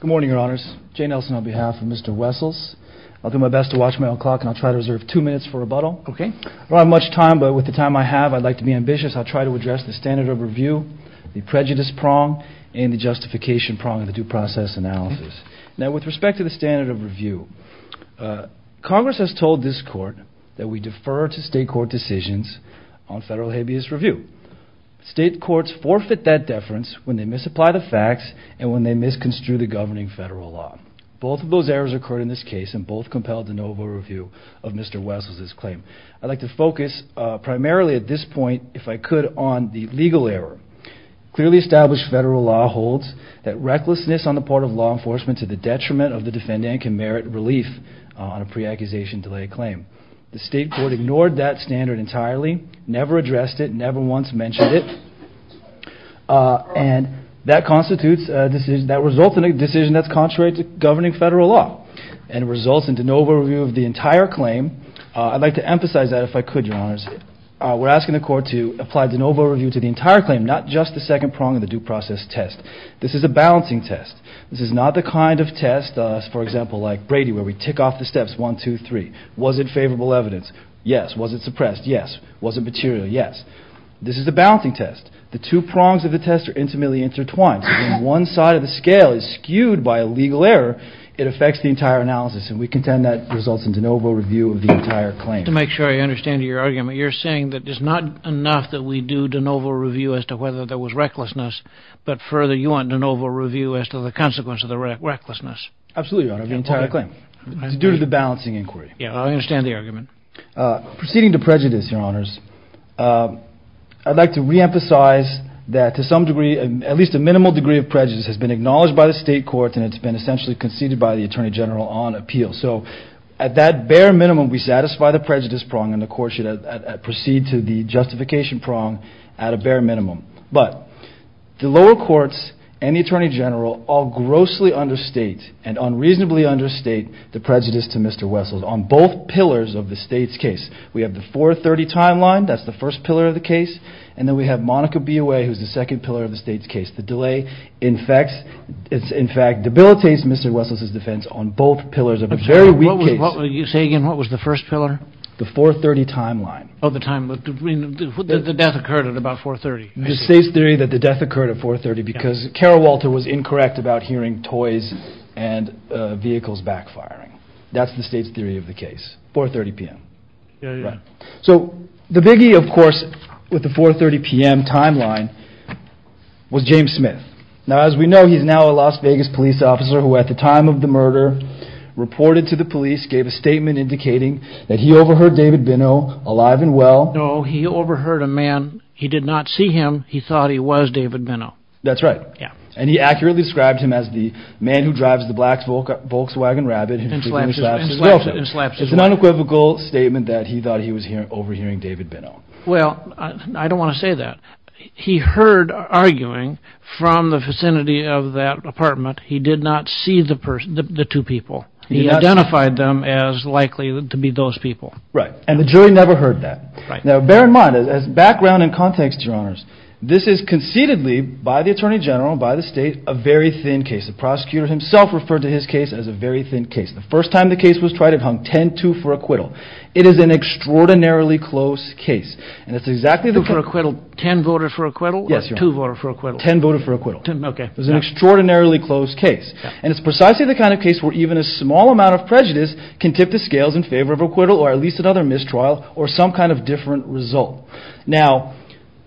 Good morning, Your Honors. Jay Nelson on behalf of Mr. Wessels. I'll do my best to watch my own clock, and I'll try to reserve two minutes for rebuttal. I don't have much time, but with the time I have, I'd like to be ambitious. I'll try to address the standard of review, the prejudice prong, and the justification prong of the due process analysis. Now, with respect to the standard of review, Congress has told this Court that we defer to state court decisions on federal habeas review. State courts forfeit that deference when they misapply the facts and when they misconstrue the governing federal law. Both of those errors occurred in this case, and both compelled the NOVA review of Mr. Wessels' claim. I'd like to focus primarily at this point, if I could, on the legal error. Clearly established federal law holds that recklessness on the part of law enforcement to the detriment of the defendant can merit relief on a pre-accusation delay claim. The state court ignored that standard entirely, never addressed it, never once mentioned it. And that constitutes a decision that results in a decision that's contrary to governing federal law. And it results in the NOVA review of the entire claim. I'd like to emphasize that, if I could, Your Honors. We're asking the Court to apply the NOVA review to the entire claim, not just the second prong of the due process test. This is a balancing test. This is not the kind of test, for example, like Brady, where we tick off the steps one, two, three. Was it favorable evidence? Yes. Was it suppressed? Yes. Was it material? Yes. This is a balancing test. The two prongs of the test are intimately intertwined. So when one side of the scale is skewed by a legal error, it affects the entire analysis. And we contend that results in the NOVA review of the entire claim. To make sure I understand your argument, you're saying that it's not enough that we do the NOVA review as to whether there was recklessness, but further, you want the NOVA review as to the consequence of the recklessness. Absolutely, Your Honor, of the entire claim. It's due to the balancing inquiry. Yeah, I understand the argument. Proceeding to prejudice, Your Honors, I'd like to reemphasize that to some degree, at least a minimal degree of prejudice has been acknowledged by the state courts, and it's been essentially conceded by the Attorney General on appeal. So at that bare minimum, we satisfy the prejudice prong, and the Court should proceed to the justification prong at a bare minimum. But the lower courts and the Attorney General all grossly understate and unreasonably understate the prejudice to Mr. Wessels on both pillars of the state's case. We have the 430 timeline. That's the first pillar of the case. And then we have Monica Biaway, who's the second pillar of the state's case. The delay, in fact, debilitates Mr. Wessels' defense on both pillars of a very weak case. Say again, what was the first pillar? The 430 timeline. Oh, the timeline. The death occurred at about 430. The state's theory that the death occurred at 430 because Carol Walter was incorrect about hearing toys and vehicles backfiring. That's the state's theory of the case. 430 p.m. Yeah, yeah. So the biggie, of course, with the 430 p.m. timeline was James Smith. Now, as we know, he's now a Las Vegas police officer who, at the time of the murder, reported to the police, gave a statement indicating that he overheard David Benno alive and well. No, he overheard a man. He did not see him. He thought he was David Benno. That's right. Yeah. And he accurately described him as the man who drives the Volkswagen Rabbit and frequently slaps his girlfriend. And slaps his wife. It's an unequivocal statement that he thought he was overhearing David Benno. Well, I don't want to say that. He heard arguing from the vicinity of that apartment. He did not see the two people. He identified them as likely to be those people. Right. And the jury never heard that. Right. Now, bear in mind, as background and context, Your Honors, this is concededly, by the Attorney General, by the state, a very thin case. The prosecutor himself referred to his case as a very thin case. The first time the case was tried, it hung 10-2 for acquittal. It is an extraordinarily close case. 10 voted for acquittal? Yes, Your Honor. Or 2 voted for acquittal? 10 voted for acquittal. Okay. It was an extraordinarily close case. And it's precisely the kind of case where even a small amount of prejudice can tip the scales in favor of acquittal or at least another mistrial or some kind of different result. Now,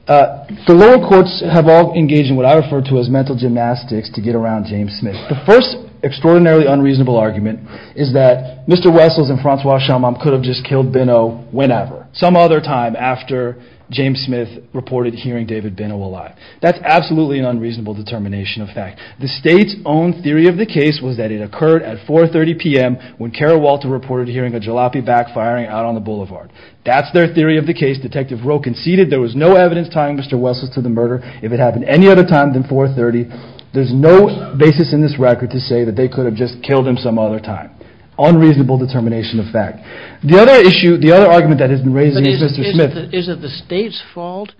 the lower courts have all engaged in what I refer to as mental gymnastics to get around James Smith. The first extraordinarily unreasonable argument is that Mr. Wessels and Francois Chalmant could have just killed Binot whenever, some other time after James Smith reported hearing David Binot alive. That's absolutely an unreasonable determination of fact. The state's own theory of the case was that it occurred at 4.30 p.m. when Kara Walter reported hearing a jalopy backfiring out on the boulevard. That's their theory of the case. Detective Rowe conceded there was no evidence tying Mr. Wessels to the murder if it happened any other time than 4.30. There's no basis in this record to say that they could have just killed him some other time. Unreasonable determination of fact. The other issue, the other argument that has been raised is Mr. Smith. But is it the state's fault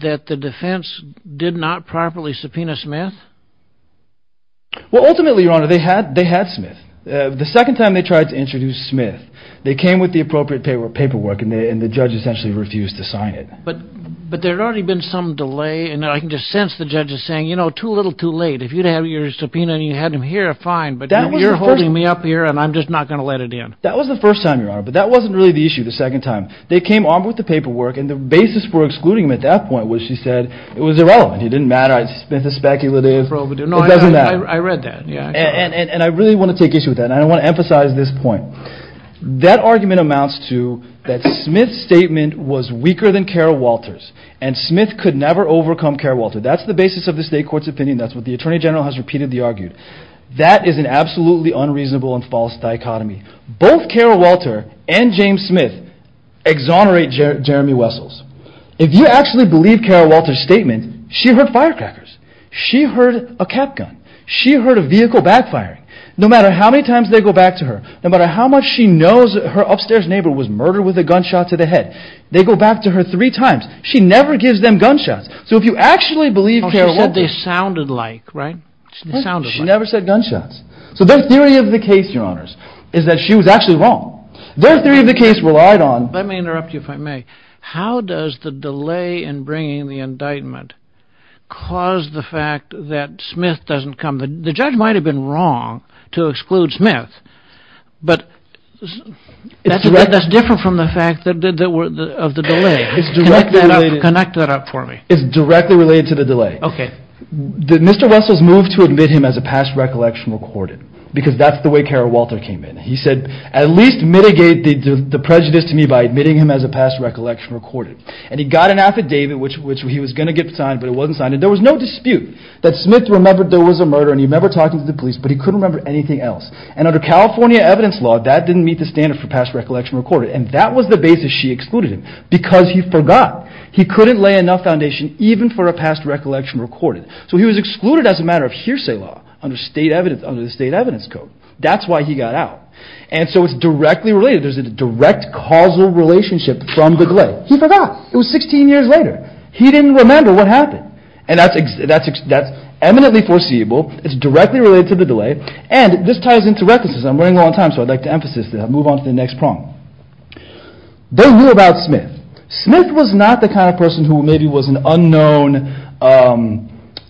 that the defense did not properly subpoena Smith? Well, ultimately, Your Honor, they had Smith. The second time they tried to introduce Smith, they came with the appropriate paperwork, and the judge essentially refused to sign it. But there had already been some delay, and I can just sense the judge is saying, you know, too little, too late. If you'd have your subpoena and you had him here, fine. But you're holding me up here, and I'm just not going to let it in. That was the first time, Your Honor, but that wasn't really the issue the second time. They came on with the paperwork, and the basis for excluding him at that point was she said it was irrelevant. It didn't matter. It's speculative. It doesn't matter. I read that. And I really want to take issue with that, and I want to emphasize this point. That argument amounts to that Smith's statement was weaker than Carol Walter's, and Smith could never overcome Carol Walter's. That's the basis of the state court's opinion. That's what the attorney general has repeatedly argued. That is an absolutely unreasonable and false dichotomy. Both Carol Walter and James Smith exonerate Jeremy Wessels. If you actually believe Carol Walter's statement, she heard firecrackers. She heard a cap gun. She heard a vehicle backfiring. No matter how many times they go back to her, no matter how much she knows her upstairs neighbor was murdered with a gunshot to the head, they go back to her three times. She never gives them gunshots. So if you actually believe Carol Walter's. She said they sounded like, right? She never said gunshots. So their theory of the case, Your Honors, is that she was actually wrong. Their theory of the case relied on. Let me interrupt you, if I may. How does the delay in bringing the indictment cause the fact that Smith doesn't come? The judge might have been wrong to exclude Smith. But that's different from the fact of the delay. Connect that up for me. It's directly related to the delay. Did Mr. Wessels move to admit him as a past recollection recorded? Because that's the way Carol Walter came in. He said, at least mitigate the prejudice to me by admitting him as a past recollection recorded. And he got an affidavit, which he was going to get signed, but it wasn't signed. And there was no dispute that Smith remembered there was a murder. And he remember talking to the police, but he couldn't remember anything else. And under California evidence law, that didn't meet the standard for past recollection recorded. And that was the basis she excluded him. Because he forgot. He couldn't lay enough foundation even for a past recollection recorded. So he was excluded as a matter of hearsay law under the state evidence code. That's why he got out. And so it's directly related. There's a direct causal relationship from the delay. He forgot. It was 16 years later. He didn't remember what happened. And that's eminently foreseeable. It's directly related to the delay. And this ties into recklessness. I'm running low on time, so I'd like to emphasize that. I'll move on to the next problem. They knew about Smith. Smith was not the kind of person who maybe was an unknown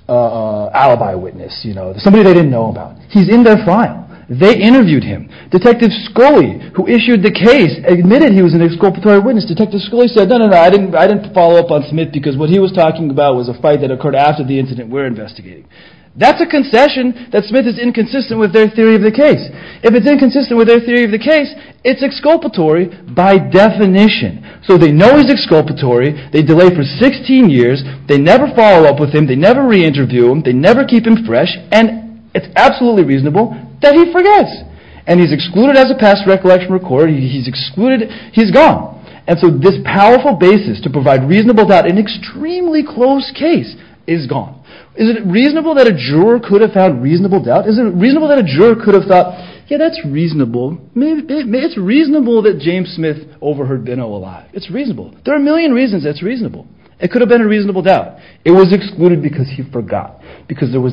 alibi witness. Somebody they didn't know about. He's in their file. They interviewed him. Detective Scully, who issued the case, admitted he was an exculpatory witness. Detective Scully said, no, no, no. I didn't follow up on Smith because what he was talking about was a fight that occurred after the incident we're investigating. That's a concession that Smith is inconsistent with their theory of the case. If it's inconsistent with their theory of the case, it's exculpatory by definition. So they know he's exculpatory. They delay for 16 years. They never follow up with him. They never reinterview him. They never keep him fresh. And it's absolutely reasonable that he forgets. And he's excluded as a past recollection recorded. He's excluded. He's gone. And so this powerful basis to provide reasonable doubt in an extremely close case is gone. Is it reasonable that a juror could have found reasonable doubt? Is it reasonable that a juror could have thought, yeah, that's reasonable. It's reasonable that James Smith overheard Benno alive. It's reasonable. There are a million reasons it's reasonable. It could have been a reasonable doubt. It was excluded because he forgot. They knew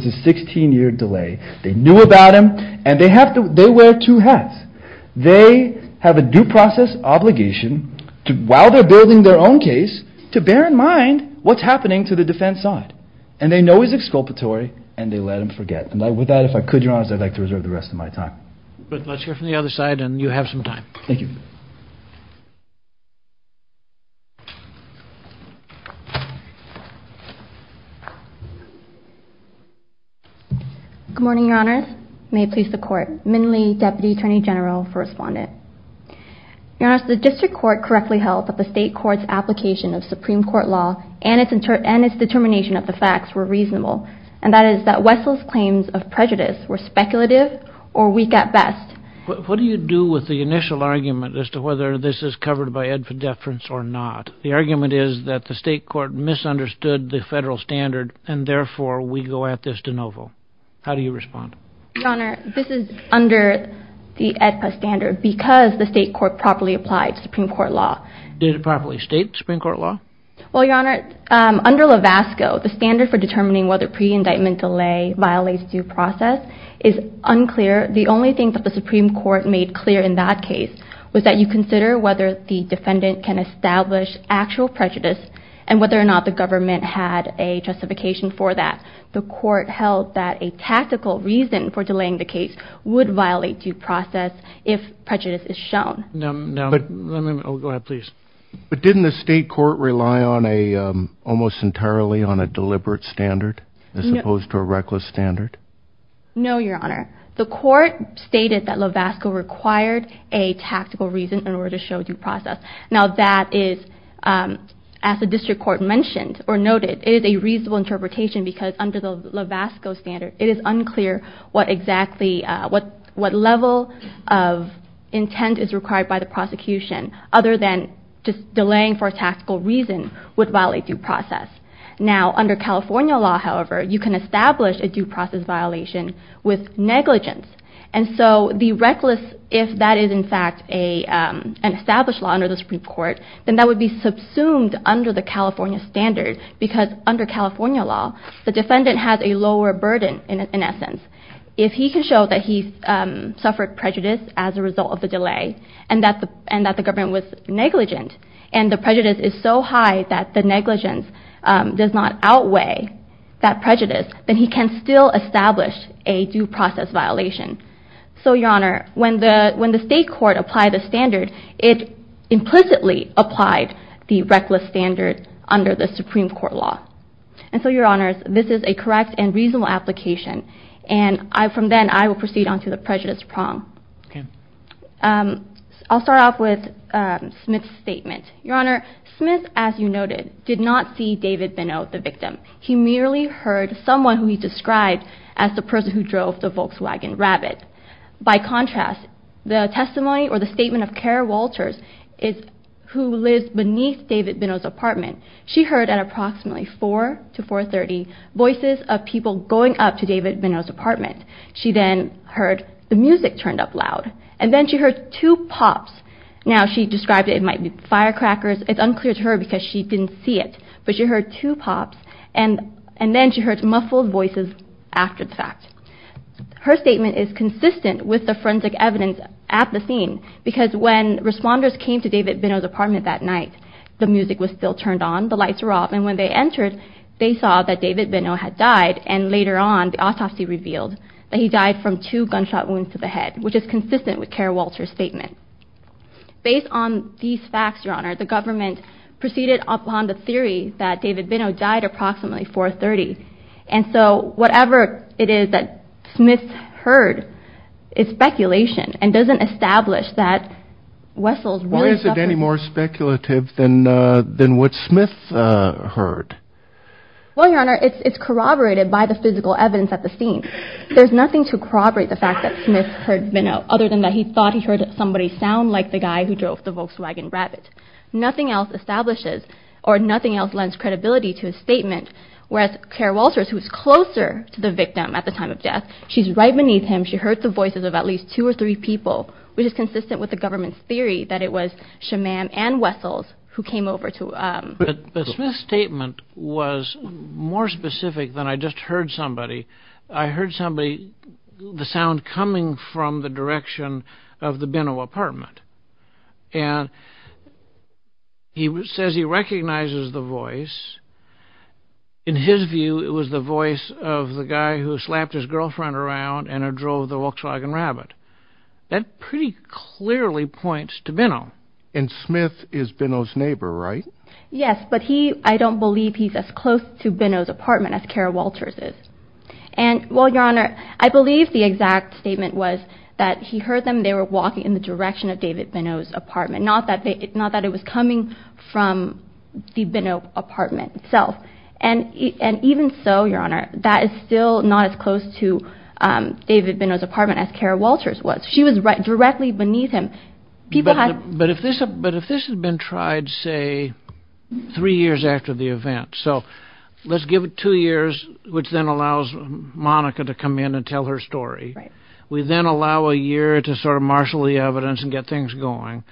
about him. And they wear two hats. They have a due process obligation, while they're building their own case, to bear in mind what's happening to the defense side. And they know he's exculpatory, and they let him forget. And with that, if I could, Your Honors, I'd like to reserve the rest of my time. Let's hear from the other side, and you have some time. Thank you. Good morning, Your Honors. May it please the Court. I am Min Lee, Deputy Attorney General for Respondent. Your Honors, the district court correctly held that the state court's application of Supreme Court law and its determination of the facts were reasonable, and that is that Wessel's claims of prejudice were speculative or weak at best. What do you do with the initial argument as to whether this is covered by ed for deference or not? The argument is that the state court misunderstood the federal standard, and therefore we go at this de novo. How do you respond? Your Honor, this is under the EDPA standard because the state court properly applied Supreme Court law. Did it properly state Supreme Court law? Well, Your Honor, under LAVASCO, the standard for determining whether pre-indictment delay violates due process is unclear. The only thing that the Supreme Court made clear in that case was that you consider whether the defendant can establish actual prejudice and whether or not the government had a justification for that. The court held that a tactical reason for delaying the case would violate due process if prejudice is shown. Go ahead, please. But didn't the state court rely almost entirely on a deliberate standard as opposed to a reckless standard? No, Your Honor. The court stated that LAVASCO required a tactical reason in order to show due process. It is a reasonable interpretation because under the LAVASCO standard, it is unclear what level of intent is required by the prosecution other than just delaying for a tactical reason would violate due process. Now, under California law, however, you can establish a due process violation with negligence. And so the reckless, if that is in fact an established law under the Supreme Court, then that would be subsumed under the California standard because under California law, the defendant has a lower burden in essence. If he can show that he suffered prejudice as a result of the delay and that the government was negligent, and the prejudice is so high that the negligence does not outweigh that prejudice, then he can still establish a due process violation. So, Your Honor, when the state court applied the standard, it implicitly applied the reckless standard under the Supreme Court law. And so, Your Honors, this is a correct and reasonable application. And from then, I will proceed on to the prejudice prong. Okay. I'll start off with Smith's statement. Your Honor, Smith, as you noted, did not see David Beno, the victim. He merely heard someone who he described as the person who drove the Volkswagen Rabbit. By contrast, the testimony or the statement of Kara Walters, who lives beneath David Beno's apartment, she heard at approximately 4 to 4.30 voices of people going up to David Beno's apartment. She then heard the music turned up loud. And then she heard two pops. Now, she described it might be firecrackers. It's unclear to her because she didn't see it. But she heard two pops, and then she heard muffled voices after the fact. Her statement is consistent with the forensic evidence at the scene because when responders came to David Beno's apartment that night, the music was still turned on, the lights were off, and when they entered, they saw that David Beno had died. And later on, the autopsy revealed that he died from two gunshot wounds to the head, which is consistent with Kara Walters' statement. Based on these facts, Your Honor, the government proceeded upon the theory that David Beno died approximately 4.30. And so whatever it is that Smith heard is speculation and doesn't establish that Wessels really suffered. Why is it any more speculative than what Smith heard? Well, Your Honor, it's corroborated by the physical evidence at the scene. There's nothing to corroborate the fact that Smith heard Beno other than that he thought he heard somebody sound like the guy who drove the Volkswagen Rabbit. Nothing else establishes or nothing else lends credibility to his statement, whereas Kara Walters, who was closer to the victim at the time of death, she's right beneath him, she heard the voices of at least two or three people, which is consistent with the government's theory that it was Shamam and Wessels who came over to him. But Smith's statement was more specific than I just heard somebody. I heard somebody, the sound coming from the direction of the Beno apartment. And he says he recognizes the voice. In his view, it was the voice of the guy who slapped his girlfriend around and drove the Volkswagen Rabbit. That pretty clearly points to Beno. And Smith is Beno's neighbor, right? Yes, but I don't believe he's as close to Beno's apartment as Kara Walters is. And, well, Your Honor, I believe the exact statement was that he heard them. They were walking in the direction of David Beno's apartment, not that it was coming from the Beno apartment itself. And even so, Your Honor, that is still not as close to David Beno's apartment as Kara Walters was. She was directly beneath him. But if this had been tried, say, three years after the event, so let's give it two years, which then allows Monica to come in and tell her story. We then allow a year to sort of marshal the evidence and get things going.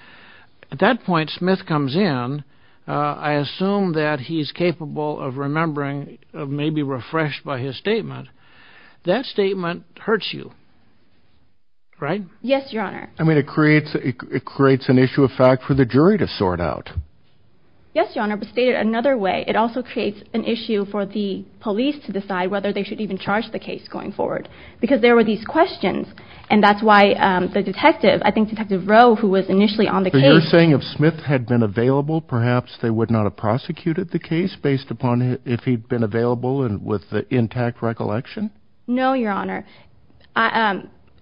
At that point, Smith comes in. I assume that he's capable of remembering, maybe refreshed by his statement. Yes, Your Honor. I mean, it creates an issue of fact for the jury to sort out. Yes, Your Honor, but stated another way, it also creates an issue for the police to decide whether they should even charge the case going forward, because there were these questions. And that's why the detective, I think Detective Rowe, who was initially on the case— So you're saying if Smith had been available, perhaps they would not have prosecuted the case based upon if he'd been available and with the intact recollection? No, Your Honor.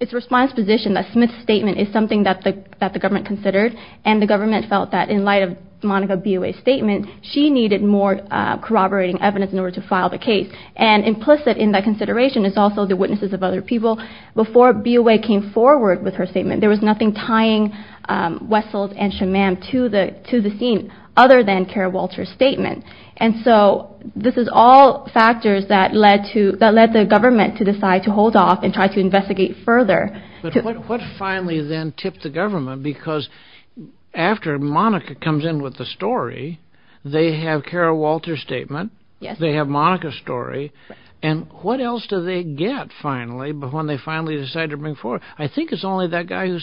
It's a response position that Smith's statement is something that the government considered, and the government felt that in light of Monica Biaway's statement, she needed more corroborating evidence in order to file the case. And implicit in that consideration is also the witnesses of other people. Before Biaway came forward with her statement, there was nothing tying Wessels and Shammam to the scene other than Kara Walter's statement. And so this is all factors that led the government to decide to hold off and try to investigate further. But what finally then tipped the government? Because after Monica comes in with the story, they have Kara Walter's statement, they have Monica's story, and what else do they get finally when they finally decide to bring forward? I think it's only that guy who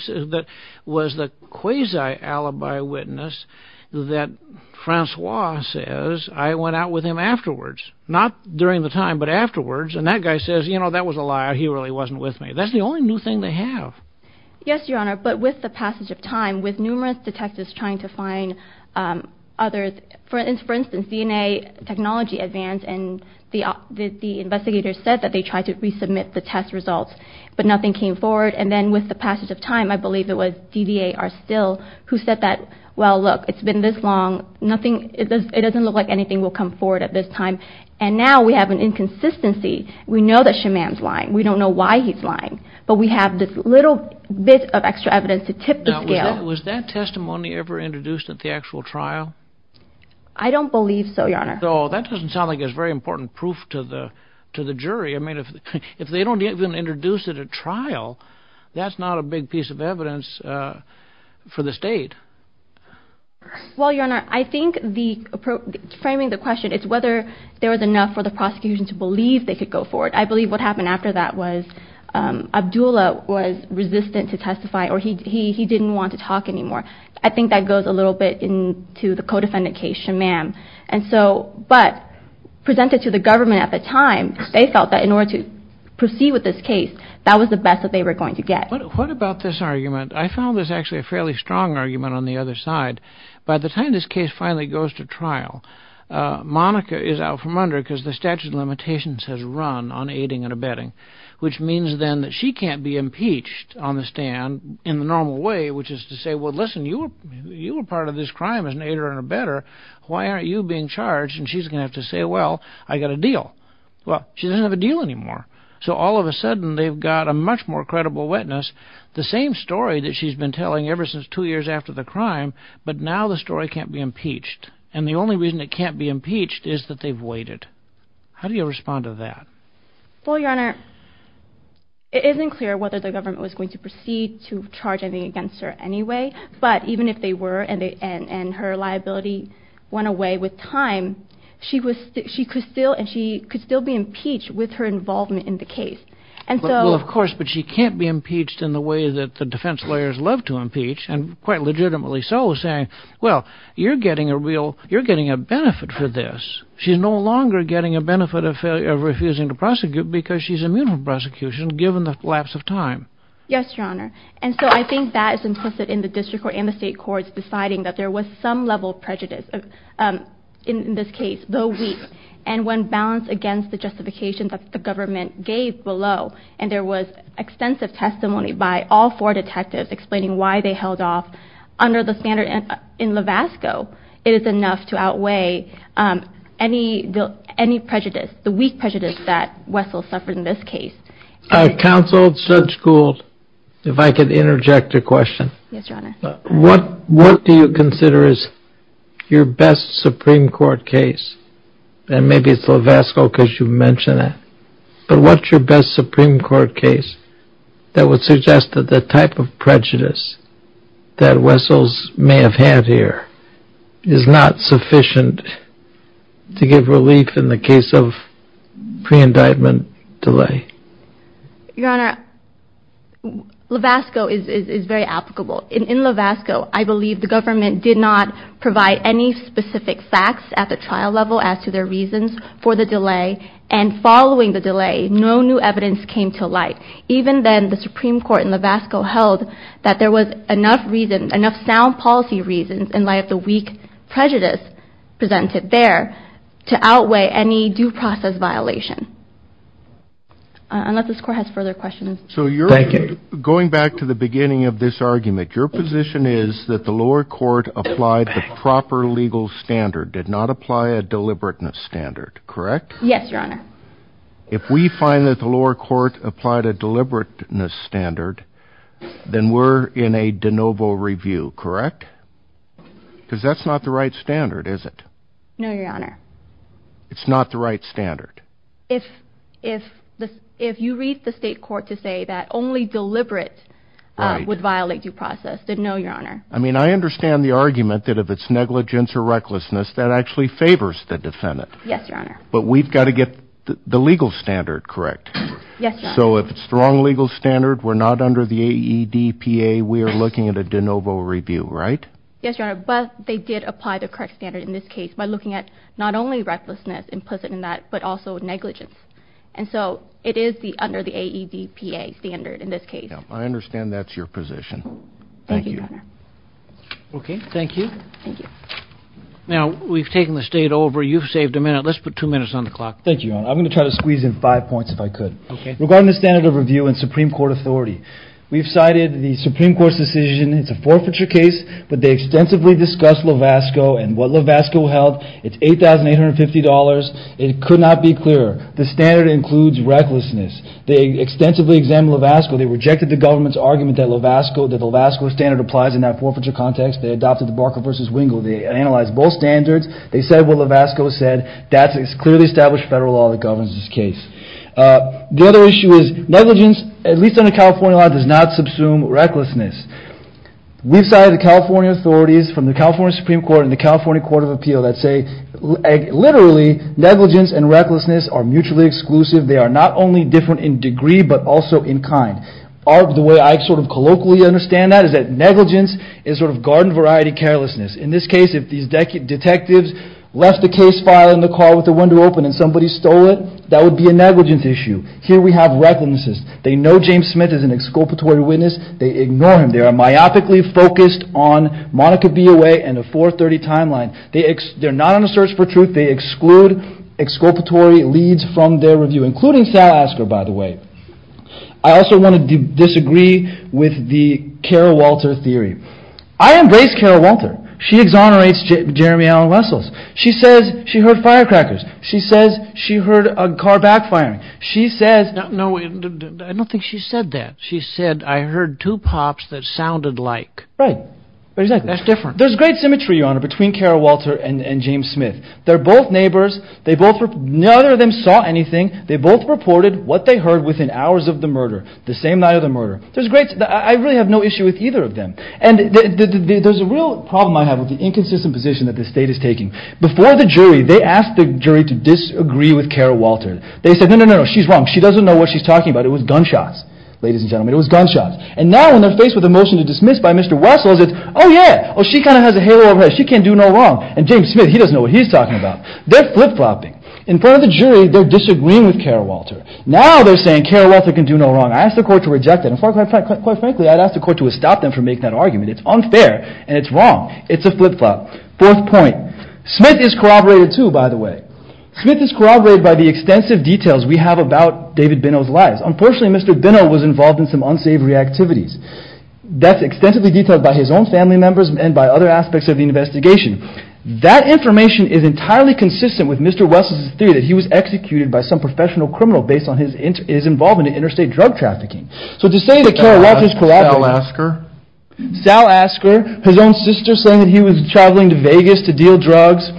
was the quasi-alibi witness that Francois says, I went out with him afterwards, not during the time, but afterwards, and that guy says, you know, that was a lie, he really wasn't with me. That's the only new thing they have. Yes, Your Honor, but with the passage of time, with numerous detectives trying to find others, for instance, DNA technology advance, and the investigators said that they tried to resubmit the test results, but nothing came forward, and then with the passage of time, I believe it was DDA, who said that, well, look, it's been this long, it doesn't look like anything will come forward at this time, and now we have an inconsistency. We know that Shammam's lying. We don't know why he's lying, but we have this little bit of extra evidence to tip the scale. Now, was that testimony ever introduced at the actual trial? I don't believe so, Your Honor. Oh, that doesn't sound like it's very important proof to the jury. I mean, if they don't even introduce it at trial, that's not a big piece of evidence for the state. Well, Your Honor, I think framing the question is whether there was enough for the prosecution to believe they could go forward. I believe what happened after that was Abdullah was resistant to testify, or he didn't want to talk anymore. I think that goes a little bit into the co-defendant case, Shammam, but presented to the government at the time, they felt that in order to proceed with this case, that was the best that they were going to get. What about this argument? I found this actually a fairly strong argument on the other side. By the time this case finally goes to trial, Monica is out from under because the statute of limitations has run on aiding and abetting, which means then that she can't be impeached on the stand in the normal way, which is to say, well, listen, you were part of this crime as an aider and abetter. Why aren't you being charged? And she's going to have to say, well, I got a deal. Well, she doesn't have a deal anymore. So all of a sudden they've got a much more credible witness, the same story that she's been telling ever since two years after the crime, but now the story can't be impeached. And the only reason it can't be impeached is that they've waited. How do you respond to that? Well, Your Honor, it isn't clear whether the government was going to proceed to charge anything against her anyway, but even if they were and her liability went away with time, she could still be impeached with her involvement in the case. Well, of course, but she can't be impeached in the way that the defense lawyers love to impeach, and quite legitimately so, saying, well, you're getting a benefit for this. She's no longer getting a benefit of refusing to prosecute because she's immune from prosecution given the lapse of time. Yes, Your Honor. And so I think that is implicit in the district court and the state courts deciding that there was some level of prejudice in this case, though weak, and when balanced against the justification that the government gave below and there was extensive testimony by all four detectives explaining why they held off under the standard in Lavasco, it is enough to outweigh any prejudice, the weak prejudice that Wessel suffered in this case. Counsel, Judge Gould, if I could interject a question. Yes, Your Honor. What do you consider is your best Supreme Court case? And maybe it's Lavasco because you mentioned it, but what's your best Supreme Court case that would suggest that the type of prejudice that Wessels may have had here is not sufficient to give relief in the case of pre-indictment delay? Your Honor, Lavasco is very applicable. In Lavasco, I believe the government did not provide any specific facts at the trial level as to their reasons for the delay, and following the delay, no new evidence came to light. Even then, the Supreme Court in Lavasco held that there was enough sound policy reasons in light of the weak prejudice presented there to outweigh any due process violation. Unless this Court has further questions. Going back to the beginning of this argument, your position is that the lower court applied the proper legal standard, did not apply a deliberateness standard, correct? Yes, Your Honor. If we find that the lower court applied a deliberateness standard, then we're in a de novo review, correct? Because that's not the right standard, is it? No, Your Honor. It's not the right standard? If you read the state court to say that only deliberate would violate due process, then no, Your Honor. I mean, I understand the argument that if it's negligence or recklessness, that actually favors the defendant. Yes, Your Honor. But we've got to get the legal standard correct. Yes, Your Honor. So if it's the wrong legal standard, we're not under the AEDPA, we're looking at a de novo review, right? Yes, Your Honor, but they did apply the correct standard in this case by looking at not only recklessness implicit in that, but also negligence. And so it is under the AEDPA standard in this case. I understand that's your position. Thank you. Okay, thank you. Thank you. Now, we've taken the state over. You've saved a minute. Let's put two minutes on the clock. Thank you, Your Honor. I'm going to try to squeeze in five points if I could. Okay. Regarding the standard of review in Supreme Court authority, we've cited the Supreme Court's decision. It's a forfeiture case, but they extensively discussed Lovasco and what Lovasco held. It's $8,850. It could not be clearer. The standard includes recklessness. They extensively examined Lovasco. They rejected the government's argument that Lovasco standard applies in that forfeiture context. They adopted the Barker v. Wingo. They analyzed both standards. They said what Lovasco said. That's a clearly established federal law that governs this case. The other issue is negligence, at least under California law, does not subsume recklessness. We've cited the California authorities from the California Supreme Court and the California Court of Appeal that say, literally, negligence and recklessness are mutually exclusive. They are not only different in degree but also in kind. The way I sort of colloquially understand that is that negligence is sort of garden-variety carelessness. In this case, if these detectives left the case file in the car with the window open and somebody stole it, that would be a negligence issue. Here we have recklessness. They know James Smith is an exculpatory witness. They ignore him. They are myopically focused on Monica Biaway and a 430 timeline. They're not on a search for truth. They exclude exculpatory leads from their review, including Sal Asker, by the way. I also want to disagree with the Carol Walter theory. I embrace Carol Walter. She exonerates Jeremy Allen Wessels. She says she heard firecrackers. She says she heard a car backfiring. She says – No, I don't think she said that. She said, I heard two pops that sounded like. Right, exactly. That's different. There's great symmetry, Your Honor, between Carol Walter and James Smith. They're both neighbors. They both – none of them saw anything. They both reported what they heard within hours of the murder, the same night of the murder. I really have no issue with either of them. And there's a real problem I have with the inconsistent position that the state is taking. Before the jury, they asked the jury to disagree with Carol Walter. They said, no, no, no, she's wrong. She doesn't know what she's talking about. It was gunshots, ladies and gentlemen. It was gunshots. And now when they're faced with a motion to dismiss by Mr. Wessels, it's, oh, yeah. Oh, she kind of has a halo over her head. She can't do no wrong. And James Smith, he doesn't know what he's talking about. They're flip-flopping. In front of the jury, they're disagreeing with Carol Walter. Now they're saying Carol Walter can do no wrong. I asked the court to reject that. And quite frankly, I'd ask the court to stop them from making that argument. It's unfair, and it's wrong. It's a flip-flop. Fourth point. Smith is corroborated, too, by the way. Smith is corroborated by the extensive details we have about David Benno's life. Unfortunately, Mr. Benno was involved in some unsavory activities. That's extensively detailed by his own family members and by other aspects of the investigation. That information is entirely consistent with Mr. Wessels' theory that he was executed by some professional criminal based on his involvement in interstate drug trafficking. So to say that Carol Walter is corroborated... Sal Asker? Sal Asker. His own sister saying that he was traveling to Vegas to deal drugs.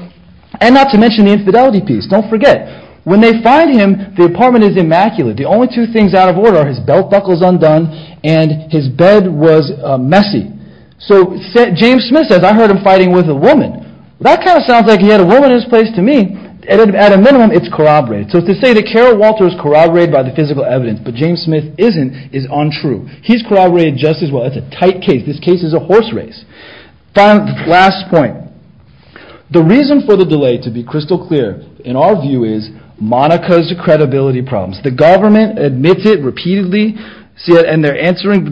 And not to mention the infidelity piece. Don't forget. When they find him, the apartment is immaculate. The only two things out of order are his belt buckles undone and his bed was messy. So James Smith says, I heard him fighting with a woman. That kind of sounds like he had a woman in his place to me. At a minimum, it's corroborated. So to say that Carol Walter is corroborated by the physical evidence, but James Smith isn't, is untrue. He's corroborated just as well. It's a tight case. This case is a horse race. Last point. The reason for the delay, to be crystal clear, in our view, is Monica's credibility problems. The government admits it repeatedly. And they're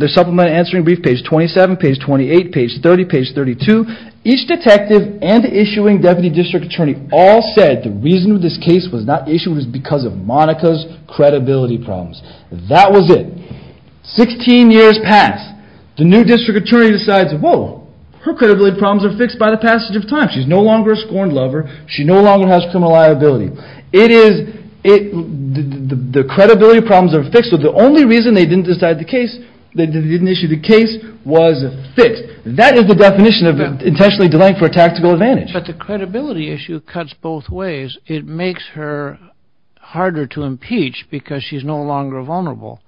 supplemented answering brief page 27, page 28, page 30, page 32. Each detective and issuing deputy district attorney all said the reason this case was not issued was because of Monica's credibility problems. That was it. 16 years pass. The new district attorney decides, whoa, her credibility problems are fixed by the passage of time. She's no longer a scorned lover. She no longer has criminal liability. The credibility problems are fixed. So the only reason they didn't issue the case was fixed. That is the definition of intentionally delaying for a tactical advantage. But the credibility issue cuts both ways. It makes her harder to impeach because she's no longer vulnerable.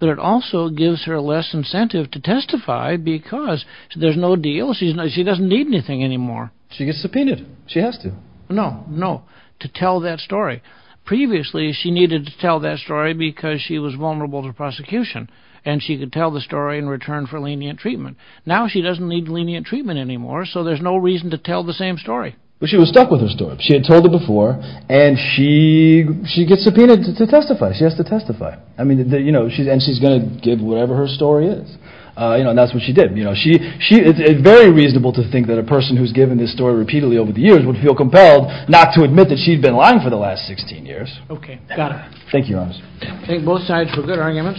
But it also gives her less incentive to testify because there's no deal. She doesn't need anything anymore. She gets subpoenaed. She has to. No, no. To tell that story. Previously, she needed to tell that story because she was vulnerable to prosecution. And she could tell the story in return for lenient treatment. Now she doesn't need lenient treatment anymore. So there's no reason to tell the same story. But she was stuck with her story. She had told it before. And she gets subpoenaed to testify. She has to testify. And she's going to give whatever her story is. And that's what she did. It's very reasonable to think that a person who's given this story repeatedly over the years would feel compelled not to admit that she'd been lying for the last 16 years. Okay. Got it. Thank you, Your Honor. Thank both sides for good arguments. Thank you, Your Honor.